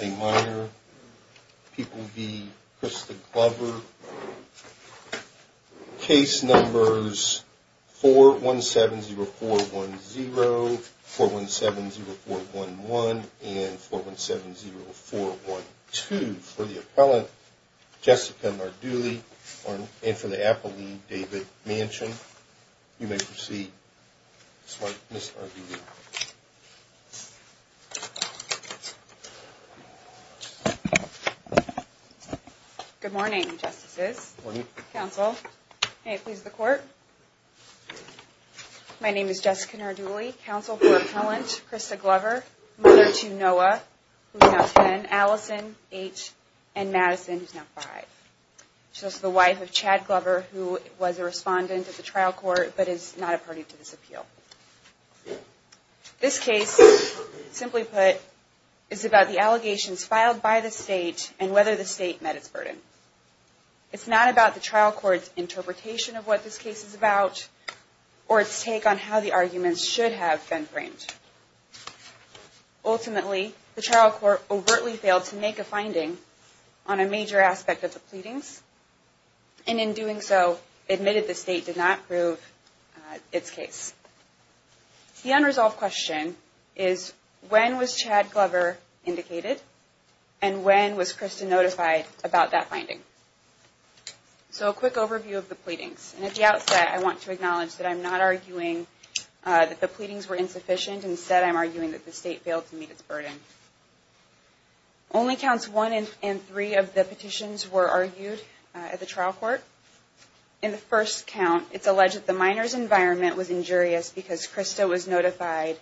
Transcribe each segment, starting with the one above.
a minor. People be Christopher. Case numbers 4 1 7 0 4 1 0 4 1 7 0 4 1 1 and 4 1 7 0 4 1 0 4 1 2 for the appellant Jessica Marduly and for the Apple David mansion. You may proceed. Smartness. Good morning, Justices Council. Hey, please. The court. My name is Jessica Marduly, counsel for appellant Krista Glover, mother to Noah, who's now 10, Allison, 8, and Madison, who's now 5. She's the wife of Chad Glover, who was a respondent at the trial court, but is not a party to this appeal. This case, simply put, is about the allegations filed by the state and whether the state met its burden. It's not about the trial court's interpretation of what this case is about or its take on how the arguments should have been framed. Ultimately, the trial court overtly failed to make a finding on a major aspect of the pleadings. And in doing so, admitted the state did not prove its case. The unresolved question is, when was Chad Glover indicated? And when was Krista notified about that finding? So a quick overview of the pleadings. And at the outset, I want to acknowledge that I'm not arguing that the pleadings were insufficient. Instead, I'm arguing that the state failed to meet its burden. Only counts one in three of the petitions were argued at the trial court. In the first count, it's alleged that the minors environment was injurious because Krista was notified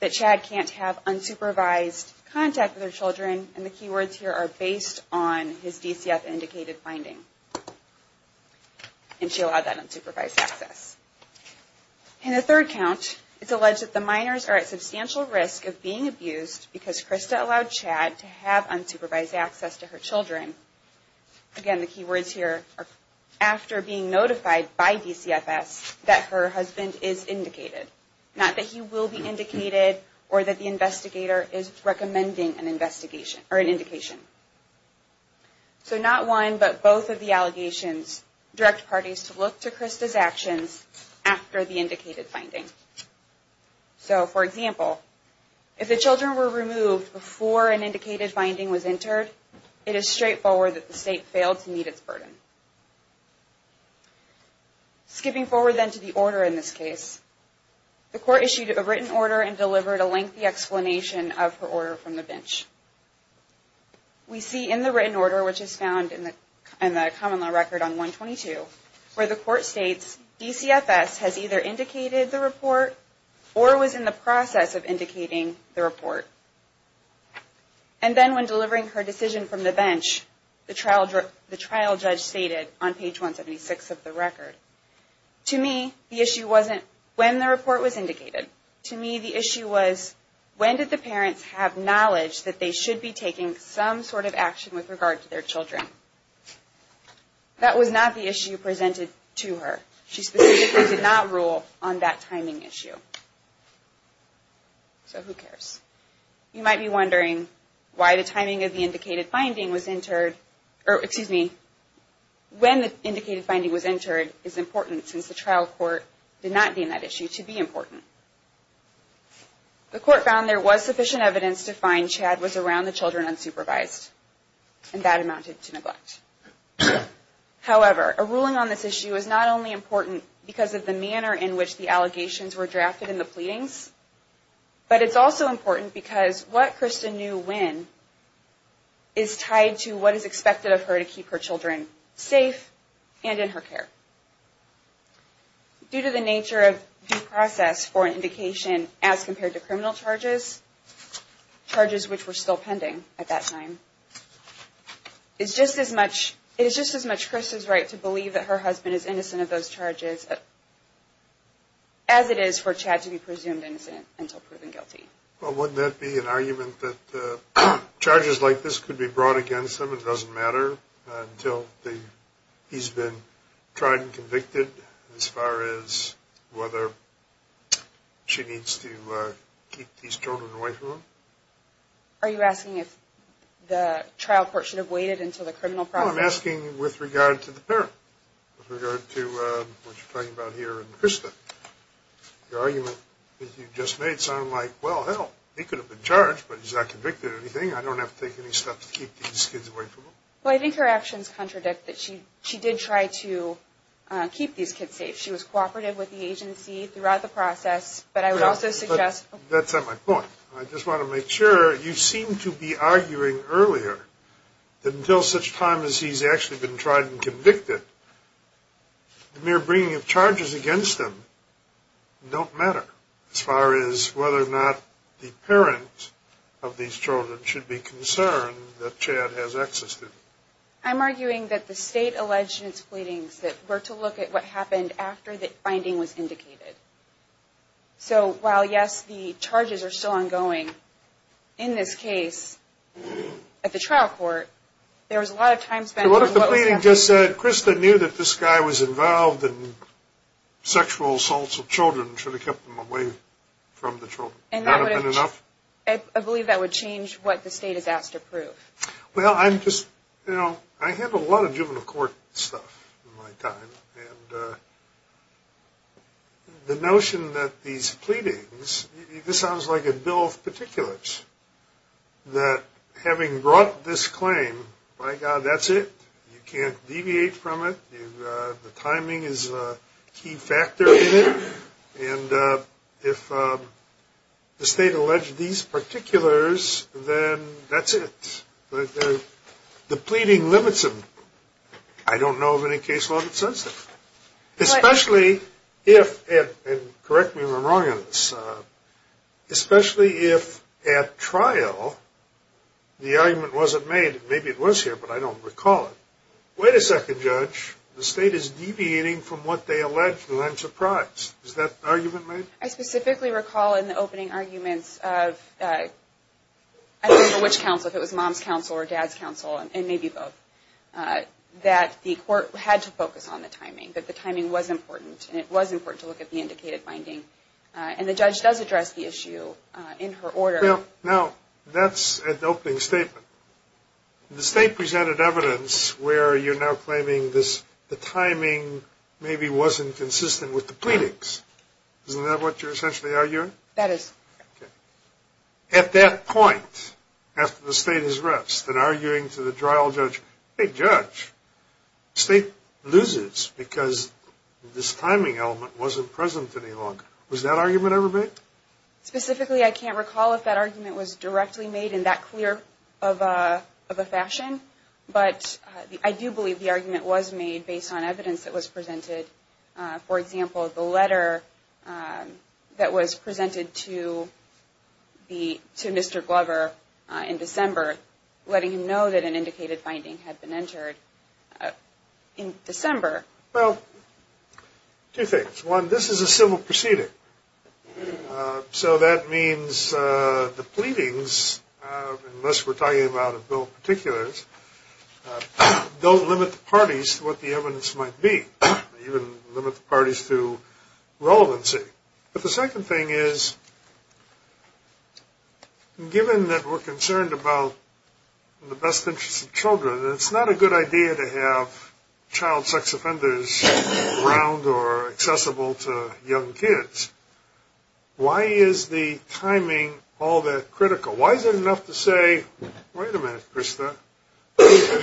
that Chad can't have unsupervised contact with her children. And the keywords here are based on his DCF indicated finding. And she allowed that unsupervised access. In the third count, it's alleged that the minors are at substantial risk of being abused because Krista allowed Chad to have unsupervised access to her children. Again, the keywords here are after being notified by DCFS that her husband is indicated. Not that he will be indicated or that the investigator is recommending an investigation or an indication. So not one, but both of the allegations direct parties to look to Krista's actions after the indicated finding. So, for example, if the children were removed before an indicated finding was entered, it is straightforward that the state failed to meet its burden. Skipping forward then to the order in this case, the court issued a written order and delivered a lengthy explanation of her order from the bench. We see in the written order, which is found in the common law record on 122, where the court states DCFS has either indicated the report or was in the process of indicating the report. And then when delivering her decision from the bench, the trial judge stated on page 176 of the record, to me the issue wasn't when the report was indicated. To me the issue was when did the parents have knowledge that they should be taking some sort of action with regard to their children. That was not the issue presented to her. She specifically did not rule on that timing issue. So who cares. You might be wondering why the timing of the indicated finding was entered, or excuse me, when the indicated finding was entered is important since the trial court did not deem that issue to be important. The court found there was sufficient evidence to find Chad was around the children unsupervised. And that amounted to neglect. However, a ruling on this issue is not only important because of the manner in which the allegations were drafted in the pleadings, but it's also important because what Krista knew when is tied to what is expected of her to keep her children safe and in her care. Due to the nature of due process for an indication as compared to criminal charges, charges which were still pending at that time, it's just as much Krista's right to believe that her husband is innocent of those charges as it is for Chad to be presumed innocent until proven guilty. Well, wouldn't that be an argument that charges like this could be brought against him. It doesn't matter until he's been tried and convicted as far as whether she needs to keep these children away from him. Are you asking if the trial court should have waited until the criminal process? No, I'm asking with regard to the parent, with regard to what you're talking about here and Krista. The argument that you just made sounded like, well, hell, he could have been charged, but he's not convicted of anything. I don't have to take any steps to keep these kids away from him. Well, I think her actions contradict that she did try to keep these kids safe. She was cooperative with the agency throughout the process, but I would also suggest... Mr. Chair, you seem to be arguing earlier that until such time as he's actually been tried and convicted, the mere bringing of charges against him don't matter as far as whether or not the parent of these children should be concerned that Chad has existed. I'm arguing that the state alleged in its pleadings that we're to look at what happened after the finding was indicated. So while, yes, the charges are still ongoing, in this case, at the trial court, there was a lot of time spent... So what if the pleading just said, Krista knew that this guy was involved in sexual assaults of children, and should have kept them away from the children? And that would have been enough? I believe that would change what the state has asked to prove. Well, I'm just, you know, I handle a lot of juvenile court stuff in my time, and the notion that these pleadings, this sounds like a bill of particulars, that having brought this claim, by God, that's it, you can't deviate from it, the timing is a key factor in it, and if the state alleged these particulars, then that's it. The pleading limits them. I don't know of any case law that says that. Especially if, and correct me if I'm wrong on this, especially if at trial the argument wasn't made, maybe it was here, but I don't recall it, Wait a second, Judge, the state is deviating from what they allege, and I'm surprised. Is that argument made? I specifically recall in the opening arguments of, I don't remember which counsel, if it was Mom's counsel or Dad's counsel, and maybe both, that the court had to focus on the timing, that the timing was important, and it was important to look at the indicated finding. And the judge does address the issue in her order. Now, that's an opening statement. The state presented evidence where you're now claiming this, the timing maybe wasn't consistent with the pleadings. Isn't that what you're essentially arguing? That is. Okay. At that point, after the state has rested, arguing to the trial judge, hey, Judge, the state loses because this timing element wasn't present any longer. Was that argument ever made? Specifically, I can't recall if that argument was directly made in that clear of a fashion, but I do believe the argument was made based on evidence that was presented. For example, the letter that was presented to Mr. Glover in December, letting him know that an indicated finding had been entered in December. Well, two things. One, this is a civil proceeding. So that means the pleadings, unless we're talking about a bill of particulars, don't limit the parties to what the evidence might be, even limit the parties to relevancy. But the second thing is, given that we're concerned about the best interests of children, and it's not a good idea to have child sex offenders around or accessible to young kids, why is the timing all that critical? Why is it enough to say, wait a minute, Krista,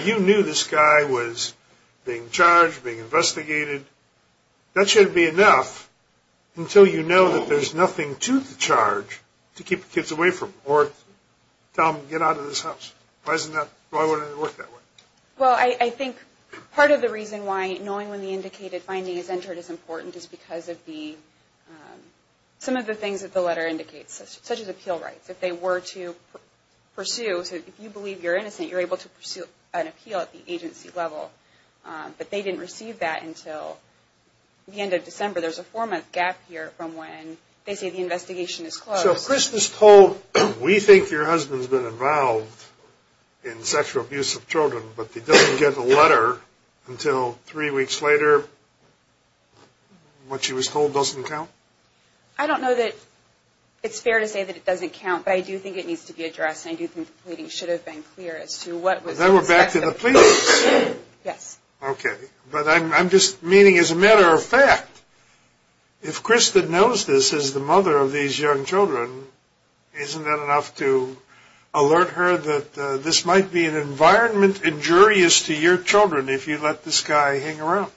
you knew this guy was being charged, being investigated. That shouldn't be enough until you know that there's nothing to the charge to keep the kids away from, or tell them to get out of this house. Why wouldn't it work that way? Well, I think part of the reason why knowing when the indicated finding is entered is important is because of some of the things that the letter indicates, such as appeal rights. If they were to pursue, so if you believe you're innocent, you're able to pursue an appeal at the agency level. But they didn't receive that until the end of December. There's a four-month gap here from when they say the investigation is closed. So if Krista's told, we think your husband's been involved in sexual abuse of children, but he doesn't get a letter until three weeks later, what she was told doesn't count? I don't know that it's fair to say that it doesn't count, but I do think it needs to be addressed, and I do think the pleading should have been clear as to what was expected. Then we're back to the pleadings. Yes. Okay. But I'm just meaning, as a matter of fact, if Krista knows this is the mother of these young children, isn't that enough to alert her that this might be an environment injurious to your children if you let this guy hang around?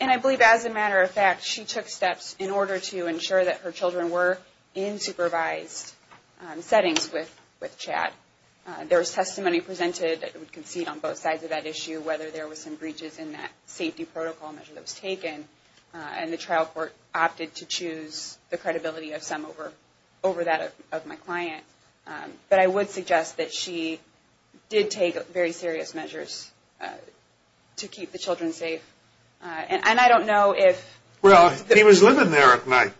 And I believe, as a matter of fact, she took steps in order to ensure that her children were in supervised settings with Chad. There was testimony presented that would concede on both sides of that issue, whether there was some breaches in that safety protocol measure that was taken, and the trial court opted to choose the credibility of some over that of my client. But I would suggest that she did take very serious measures to keep the children safe. And I don't know if – Well, he was living there at night.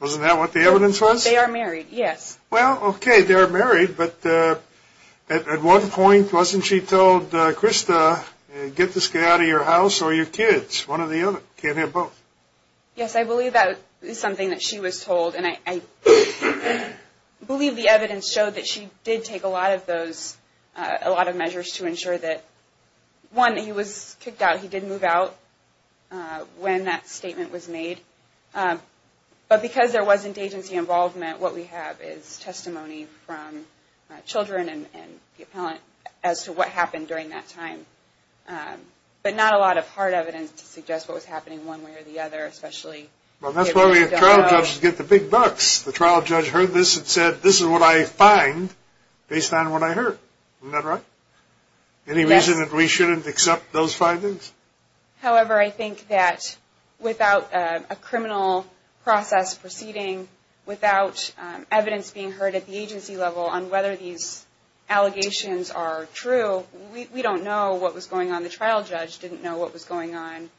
Wasn't that what the evidence was? They are married, yes. Well, okay, they are married, but at what point wasn't she told, Krista, get this guy out of your house or your kids, one or the other? You can't have both. Yes, I believe that is something that she was told, and I believe the evidence showed that she did take a lot of those – a lot of measures to ensure that, one, he was kicked out. He did move out when that statement was made. But because there wasn't agency involvement, what we have is testimony from children and the appellant as to what happened during that time. But not a lot of hard evidence to suggest what was happening one way or the other, especially – Well, that's why we have trial judges get the big bucks. The trial judge heard this and said, this is what I find based on what I heard. Isn't that right? Yes. Any reason that we shouldn't accept those findings? However, I think that without a criminal process proceeding, without evidence being heard at the agency level on whether these allegations are true, we don't know what was going on. The trial judge didn't know what was going on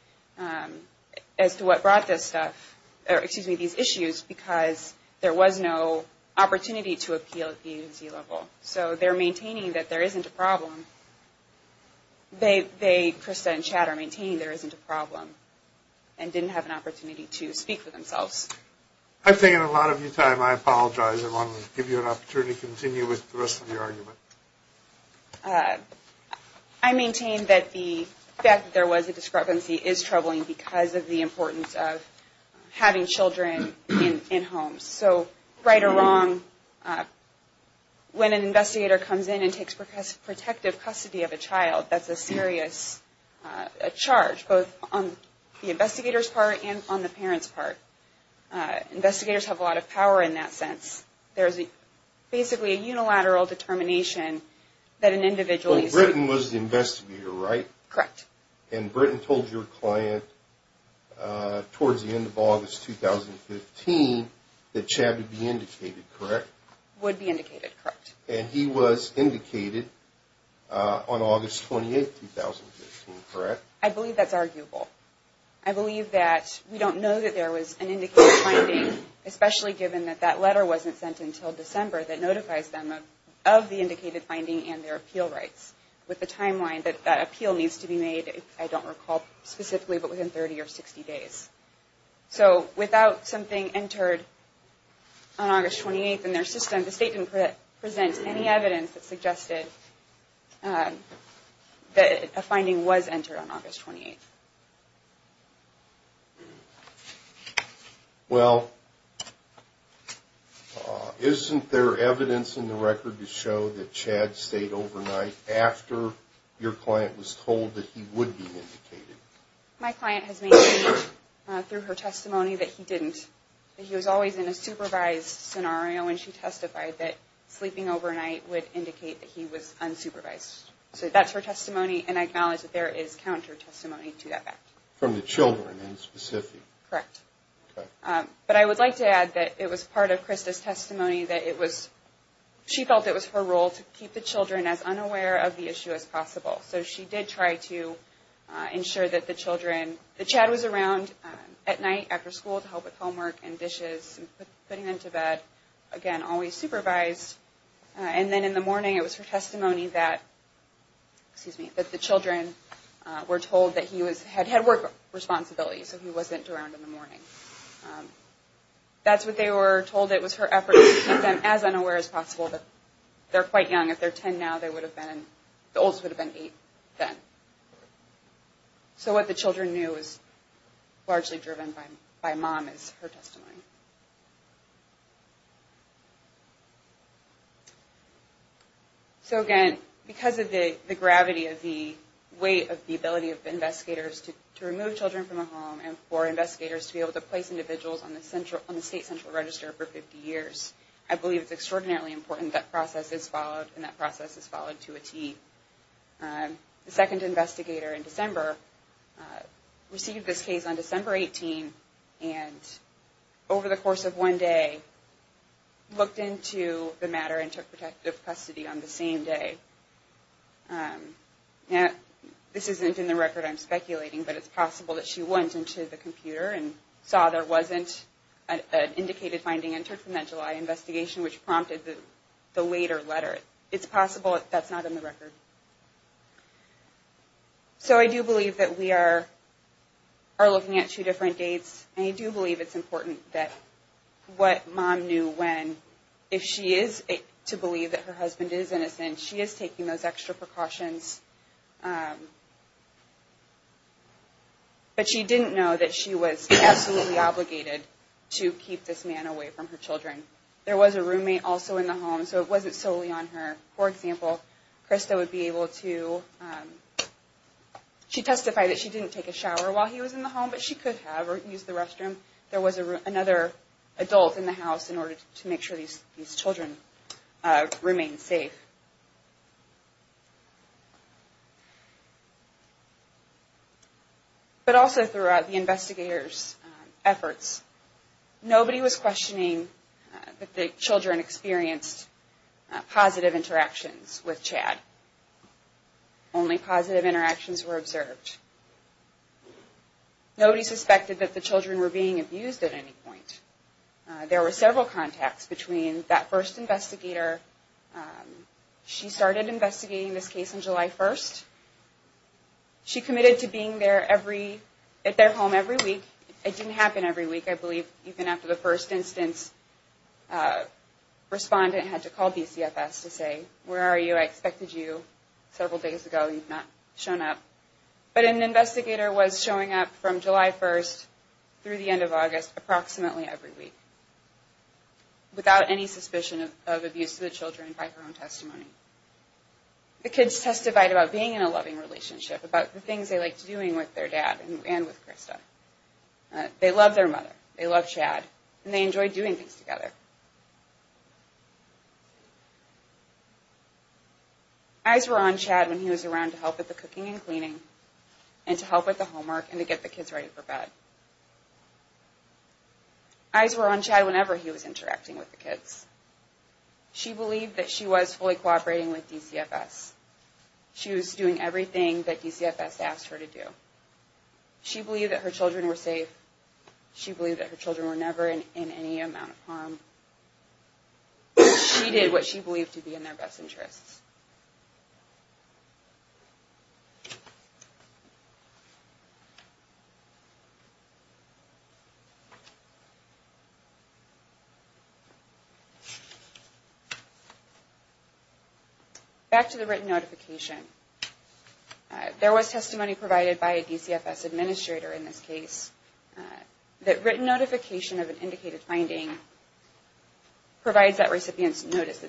as to what brought this stuff – excuse me, these issues because there was no opportunity to appeal at the agency level. So they're maintaining that there isn't a problem. They, Krista and Chad, are maintaining there isn't a problem and didn't have an opportunity to speak for themselves. I'm taking a lot of your time. I apologize. I want to give you an opportunity to continue with the rest of your argument. I maintain that the fact that there was a discrepancy is troubling because of the importance of having children in homes. So, right or wrong, when an investigator comes in and takes protective custody of a child, that's a serious charge, both on the investigator's part and on the parent's part. Investigators have a lot of power in that sense. There's basically a unilateral determination that an individual – But Britton was the investigator, right? Correct. And Britton told your client towards the end of August 2015 that Chad would be indicated, correct? Would be indicated, correct. And he was indicated on August 28, 2015, correct? I believe that's arguable. I believe that we don't know that there was an indicated finding, especially given that that letter wasn't sent until December, that notifies them of the indicated finding and their appeal rights with the timeline that that appeal needs to be made, I don't recall specifically, but within 30 or 60 days. So, without something entered on August 28 in their system, the state can present any evidence that suggested that a finding was entered on August 28. Well, isn't there evidence in the record to show that Chad stayed overnight after your client was told that he would be indicated? My client has made clear through her testimony that he didn't. He was always in a supervised scenario, and she testified that sleeping overnight would indicate that he was unsupervised. So that's her testimony, and I acknowledge that there is counter-testimony to that. From the children, in specific? Correct. Okay. But I would like to add that it was part of Krista's testimony that it was, she felt it was her role to keep the children as unaware of the issue as possible. So she did try to ensure that the children, that Chad was around at night after school to help with homework and dishes, and putting them to bed, again, always supervised. And then in the morning, it was her testimony that, excuse me, that the children were told that he had work responsibilities, so he wasn't around in the morning. That's what they were told. It was her effort to keep them as unaware as possible. They're quite young. If they're 10 now, they would have been, the oldest would have been 8 then. So what the children knew was largely driven by mom, is her testimony. So, again, because of the gravity of the weight of the ability of investigators to remove children from a home, and for investigators to be able to place individuals on the state central register for 50 years, I believe it's extraordinarily important that process is followed, and that process is followed to a T. The second investigator in December received this case on December 18, and over the course of one day, looked into the matter and took protective custody on the same day. This isn't in the record, I'm speculating, but it's possible that she went into the computer and saw there wasn't an indicated finding entered from that July investigation, which prompted the later letter. It's possible that's not in the record. So I do believe that we are looking at two different dates, and I do believe it's important that what mom knew when, if she is to believe that her husband is innocent, she is taking those extra precautions. But she didn't know that she was absolutely obligated to keep this man away from her children. There was a roommate also in the home, so it wasn't solely on her. For example, Krista would be able to, she testified that she didn't take a shower while he was in the home, but she could have, or use the restroom. There was another adult in the house in order to make sure these children remained safe. But also throughout the investigators' efforts, nobody was questioning that the children experienced positive interactions with Chad. Only positive interactions were observed. Nobody suspected that the children were being abused at any point. There were several contacts between that first investigator. She started investigating this case on July 1st. She committed to being there every, at their home every week. It didn't happen every week. I believe even after the first instance, a respondent had to call BCFS to say, where are you? I expected you several days ago. You've not shown up. But an investigator was showing up from July 1st through the end of August, approximately every week, without any suspicion of abuse to the children by her own testimony. The kids testified about being in a loving relationship, about the things they liked doing with their dad and with Krista. They loved their mother. They loved Chad. And they enjoyed doing things together. Eyes were on Chad when he was around to help with the cooking and cleaning, and to help with the homework, and to get the kids ready for bed. Eyes were on Chad whenever he was interacting with the kids. She believed that she was fully cooperating with DCFS. She was doing everything that DCFS asked her to do. She believed that her children were safe. She believed that her children were never in any amount of harm. She did what she believed to be in their best interests. Back to the written notification. There was testimony provided by a DCFS administrator in this case, that written notification of an indicated finding provides that recipient's notice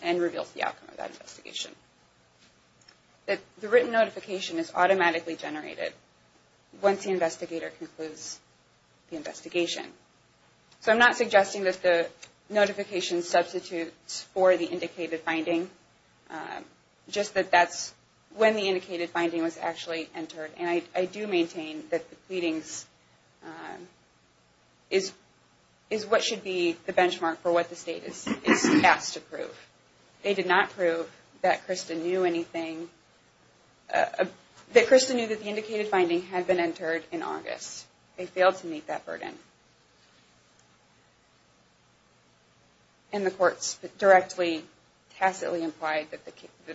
and reveals the outcome of that investigation. The written notification is automatically generated once the investigator concludes the investigation. So I'm not suggesting that the notification substitutes for the indicated finding, just that that's when the indicated finding was actually entered. And I do maintain that the pleadings is what should be the benchmark for what the state is tasked to prove. They did not prove that Krista knew anything, that Krista knew that the indicated finding had been entered in August. They failed to meet that burden. And the courts directly tacitly implied that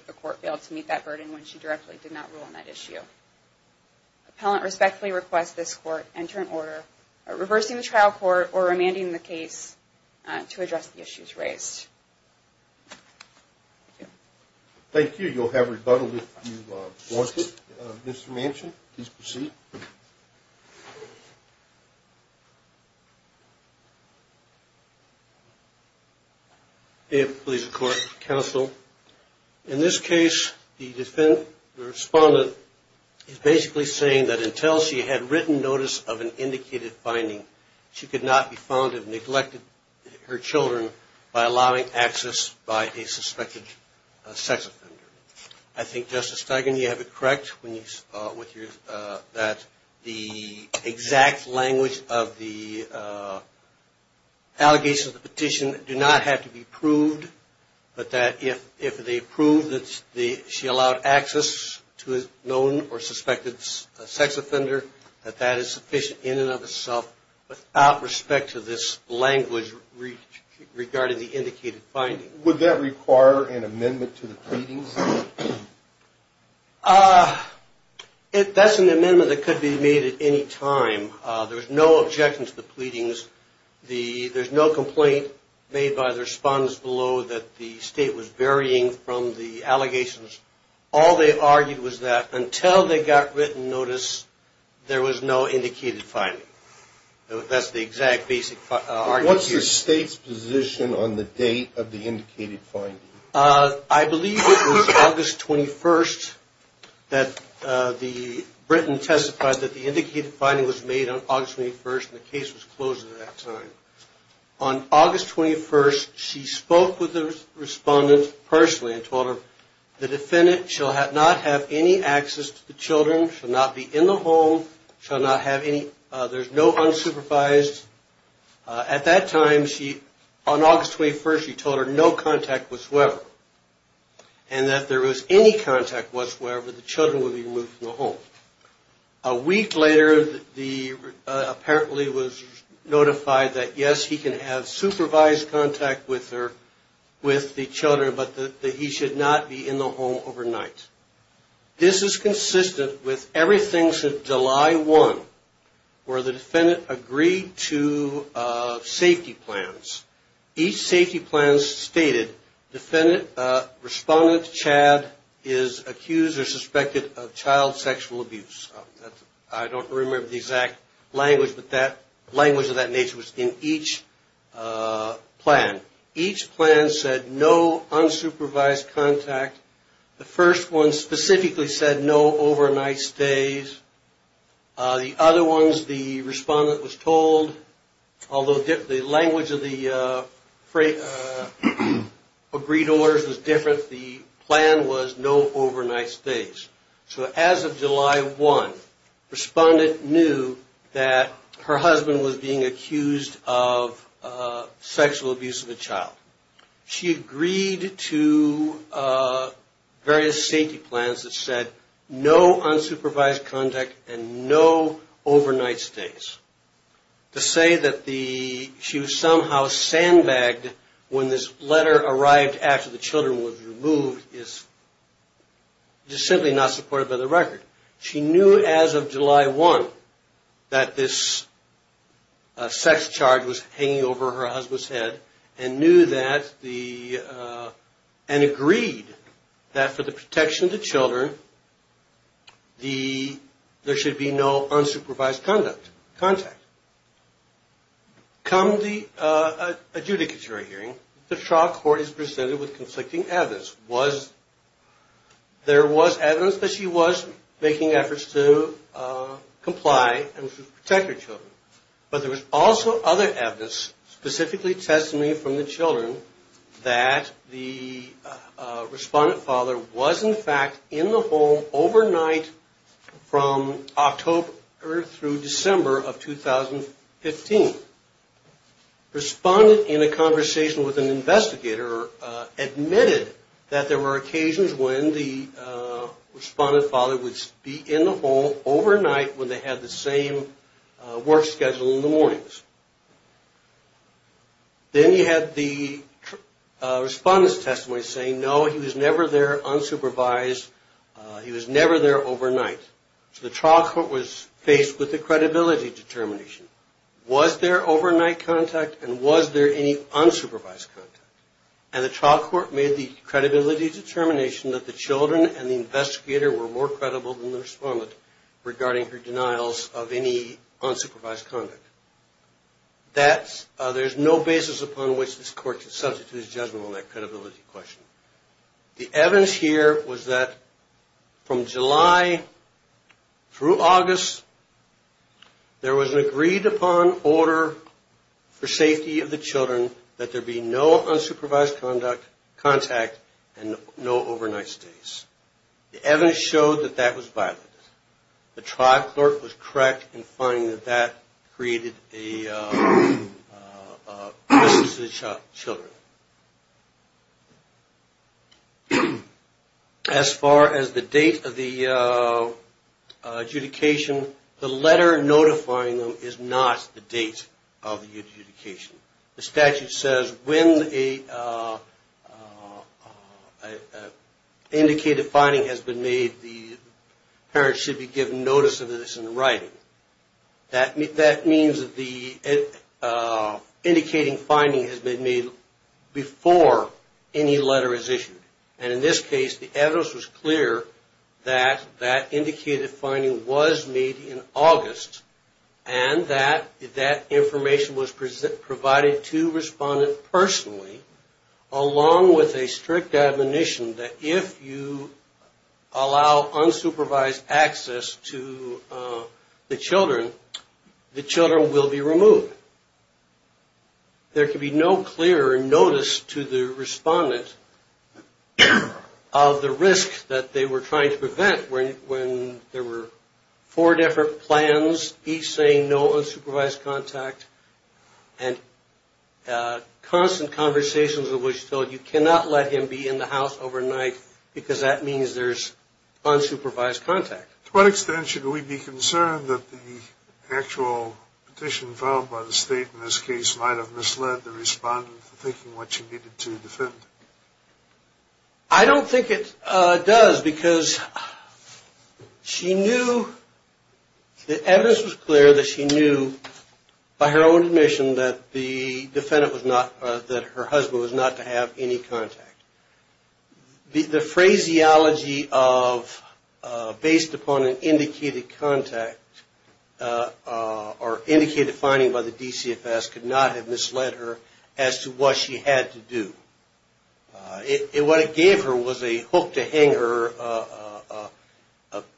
the court failed to meet that burden when she directly did not rule on that issue. Appellant respectfully requests this court enter in order reversing the trial court or remanding the case to address the issues raised. Thank you. You'll have rebuttal if you want it. Mr. Manchin, please proceed. May it please the court, counsel. In this case, the defendant, the respondent, is basically saying that until she had written notice of an indicated finding, she could not be found to have neglected her children by allowing access by a suspected sex offender. I think, Justice Feigin, you have it correct that the exact language of the allegations of the petition do not have to be proved, but that if they prove that she allowed access to a known or suspected sex offender, that that is sufficient in and of itself without respect to this language regarding the indicated finding. Would that require an amendment to the pleadings? That's an amendment that could be made at any time. There's no objection to the pleadings. There's no complaint made by the respondents below that the state was varying from the allegations. All they argued was that until they got written notice, there was no indicated finding. That's the exact basic argument here. What's the state's position on the date of the indicated finding? I believe it was August 21st that Britain testified that the indicated finding was made on August 21st, and the case was closed at that time. On August 21st, she spoke with the respondent personally and told her, the defendant shall not have any access to the children, shall not be in the home, shall not have any, there's no unsupervised. At that time, on August 21st, she told her no contact whatsoever, and that if there was any contact whatsoever, the children would be removed from the home. A week later, apparently was notified that, yes, he can have supervised contact with the children, but that he should not be in the home overnight. This is consistent with everything since July 1, where the defendant agreed to safety plans. Each safety plan stated, respondent Chad is accused or suspected of child sexual abuse. I don't remember the exact language, but the language of that nature was in each plan. Each plan said no unsupervised contact. The first one specifically said no overnight stays. The other ones, the respondent was told, although the language of the agreed orders was different, the plan was no overnight stays. So as of July 1, respondent knew that her husband was being accused of sexual abuse of a child. She agreed to various safety plans that said no unsupervised contact and no overnight stays. To say that she was somehow sandbagged when this letter arrived after the children were removed is just simply not supported by the record. She knew as of July 1 that this sex charge was hanging over her husband's head and agreed that for the protection of the children, there should be no unsupervised contact. Come the adjudicatory hearing, the trial court is presented with conflicting evidence. There was evidence that she was making efforts to comply and protect her children, but there was also other evidence, specifically testimony from the children, that the respondent father was in fact in the home overnight from October through December of 2015. Respondent, in a conversation with an investigator, admitted that there were occasions when the respondent father would be in the home overnight when they had the same work schedule in the mornings. Then you have the respondent's testimony saying no, he was never there unsupervised. He was never there overnight. So the trial court was faced with a credibility determination. Was there overnight contact and was there any unsupervised contact? and the investigator were more credible than the respondent regarding her denials of any unsupervised conduct. There's no basis upon which this court can substitute his judgment on that credibility question. The evidence here was that from July through August, there was an agreed upon order for safety of the children that there be no unsupervised contact and no overnight stays. The evidence showed that that was violated. The trial court was correct in finding that that created a crisis to the children. As far as the date of the adjudication, the letter notifying them is not the date of the adjudication. The statute says when an indicated finding has been made, the parent should be given notice of this in writing. That means that the indicating finding has been made before any letter is issued. And in this case, the evidence was clear that that indicated finding was made in August and that that information was provided to the respondent personally, along with a strict admonition that if you allow unsupervised access to the children, the children will be removed. There can be no clear notice to the respondent of the risk that they were trying to prevent when there were four different plans, each saying no unsupervised contact, and constant conversations in which you cannot let him be in the house overnight because that means there's unsupervised contact. To what extent should we be concerned that the actual petition filed by the state in this case might have misled the respondent in thinking what she needed to defend? I don't think it does because the evidence was clear that she knew by her own admission that her husband was not to have any contact. The phraseology of based upon an indicated contact or indicated finding by the DCFS could not have misled her as to what she had to do. What it gave her was a hook to hang her,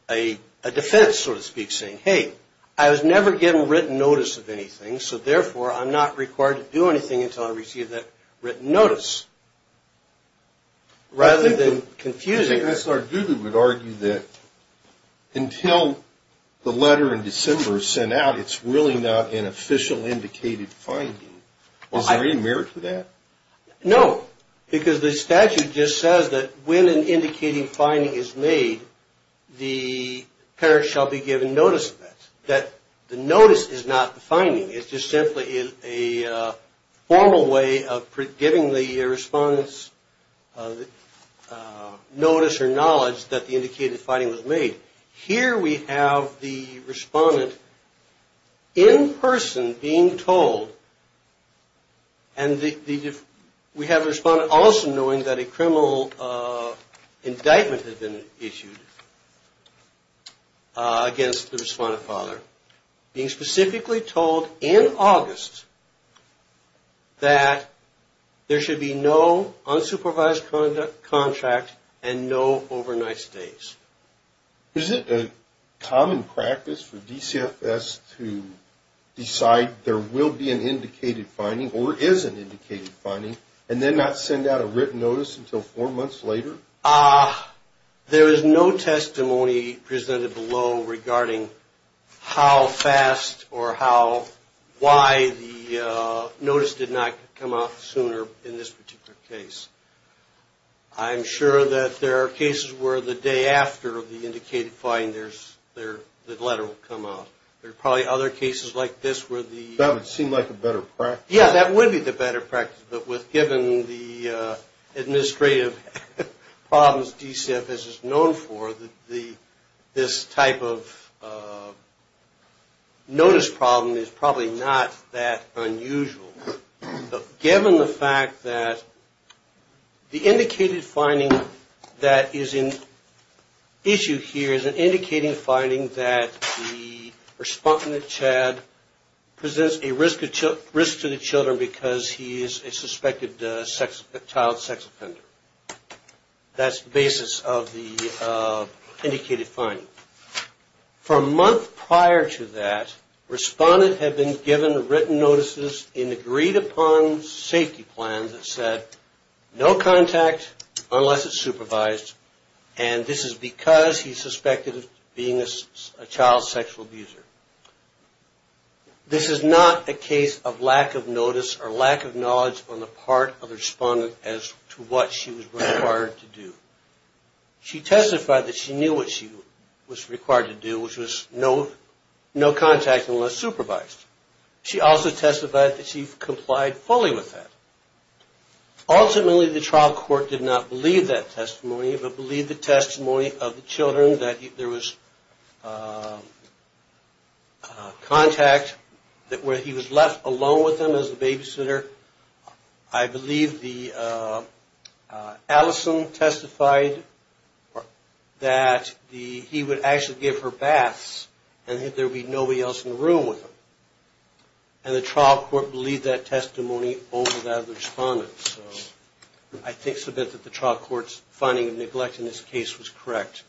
a defense, so to speak, saying, hey, I was never given written notice of anything, so therefore I'm not required to do anything until I receive that written notice, rather than confusing her. I think Mr. Ardugo would argue that until the letter in December is sent out, it's really not an official indicated finding. Is there any merit to that? No, because the statute just says that when an indicating finding is made, the parent shall be given notice of that. The notice is not the finding. It's just simply a formal way of giving the respondent's notice or knowledge that the indicated finding was made. Here we have the respondent in person being told, and we have the respondent also knowing that a criminal indictment had been issued against the respondent father, being specifically told in August that there should be no unsupervised contract and no overnight stays. Is it a common practice for DCFS to decide there will be an indicated finding or is an indicated finding, and then not send out a written notice until four months later? There is no testimony presented below regarding how fast or why the notice did not come out sooner in this particular case. I'm sure that there are cases where the day after the indicated finding, the letter will come out. There are probably other cases like this where the That would seem like a better practice. Yeah, that would be the better practice. But given the administrative problems DCFS is known for, this type of notice problem is probably not that unusual. But given the fact that the indicated finding that is in issue here is an indicated finding that the respondent, Chad, presents a risk to the children because he is a suspected child sex offender. That's the basis of the indicated finding. For a month prior to that, respondent had been given written notices in agreed-upon safety plans that said, no contact unless it's supervised, and this is because he's suspected of being a child sexual abuser. This is not a case of lack of notice or lack of knowledge on the part of the respondent as to what she was required to do. She testified that she knew what she was required to do, which was no contact unless supervised. She also testified that she complied fully with that. Ultimately, the trial court did not believe that testimony but believed the testimony of the children that there was contact, that he was left alone with them as a babysitter. I believe Allison testified that he would actually give her baths and that there would be nobody else in the room with him. And the trial court believed that testimony over that of the respondent. I think that the trial court's finding of neglect in this case was correct.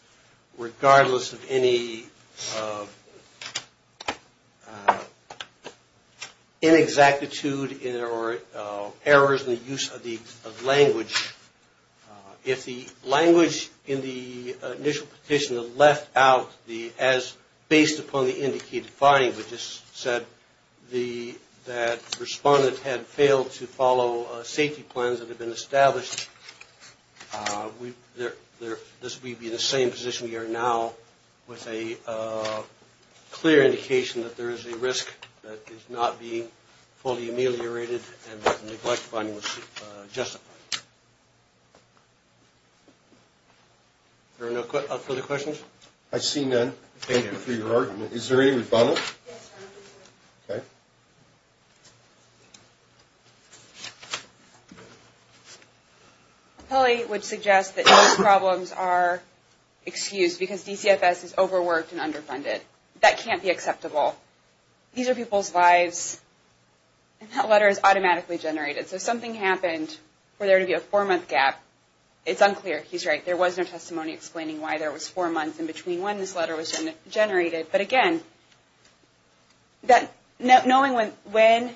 Regardless of any inexactitude or errors in the use of language, if the language in the initial petition left out as based upon the indicated finding which just said that the respondent had failed to follow safety plans that had been established, we'd be in the same position we are now with a clear indication that there is a risk that is not being fully ameliorated and that neglect finding was justified. Are there no further questions? I see none. Thank you for your argument. Is there any rebuttal? Yes. Okay. I probably would suggest that those problems are excused because DCFS is overworked and underfunded. That can't be acceptable. These are people's lives, and that letter is automatically generated. So if something happened where there would be a four-month gap, it's unclear. He's right. There was no testimony explaining why there was four months in between when this letter was generated. But again, knowing when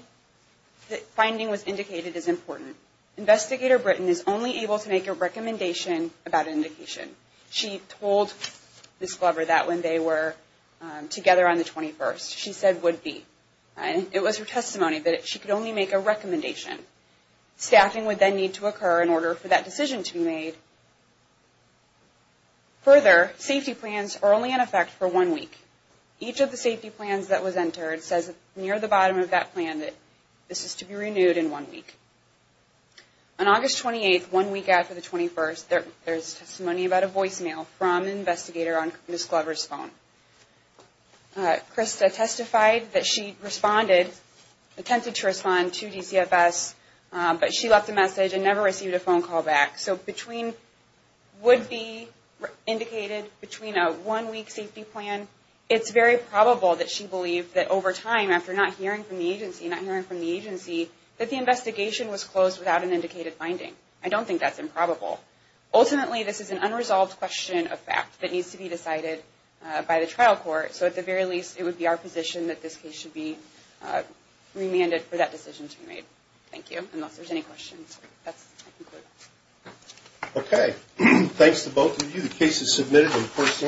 the finding was indicated is important. Investigator Britton is only able to make a recommendation about an indication. She told Ms. Glover that when they were together on the 21st, she said would be. It was her testimony, but she could only make a recommendation. Staffing would then need to occur in order for that decision to be made. Further, safety plans are only in effect for one week. Each of the safety plans that was entered says near the bottom of that plan that this is to be renewed in one week. On August 28th, one week after the 21st, there is testimony about a voicemail from an investigator on Ms. Glover's phone. Krista testified that she responded, attempted to respond to DCFS, but she left a message and never received a phone call back. So between would be indicated, between a one-week safety plan, it's very probable that she believed that over time, after not hearing from the agency, not hearing from the agency, that the investigation was closed without an indicated finding. I don't think that's improbable. Ultimately, this is an unresolved question of fact that needs to be decided by the trial court. So at the very least, it would be our position that this case should be remanded for that decision to be made. Thank you. Unless there's any questions, I conclude. Okay. Thanks to both of you. The case is submitted in the course of recess.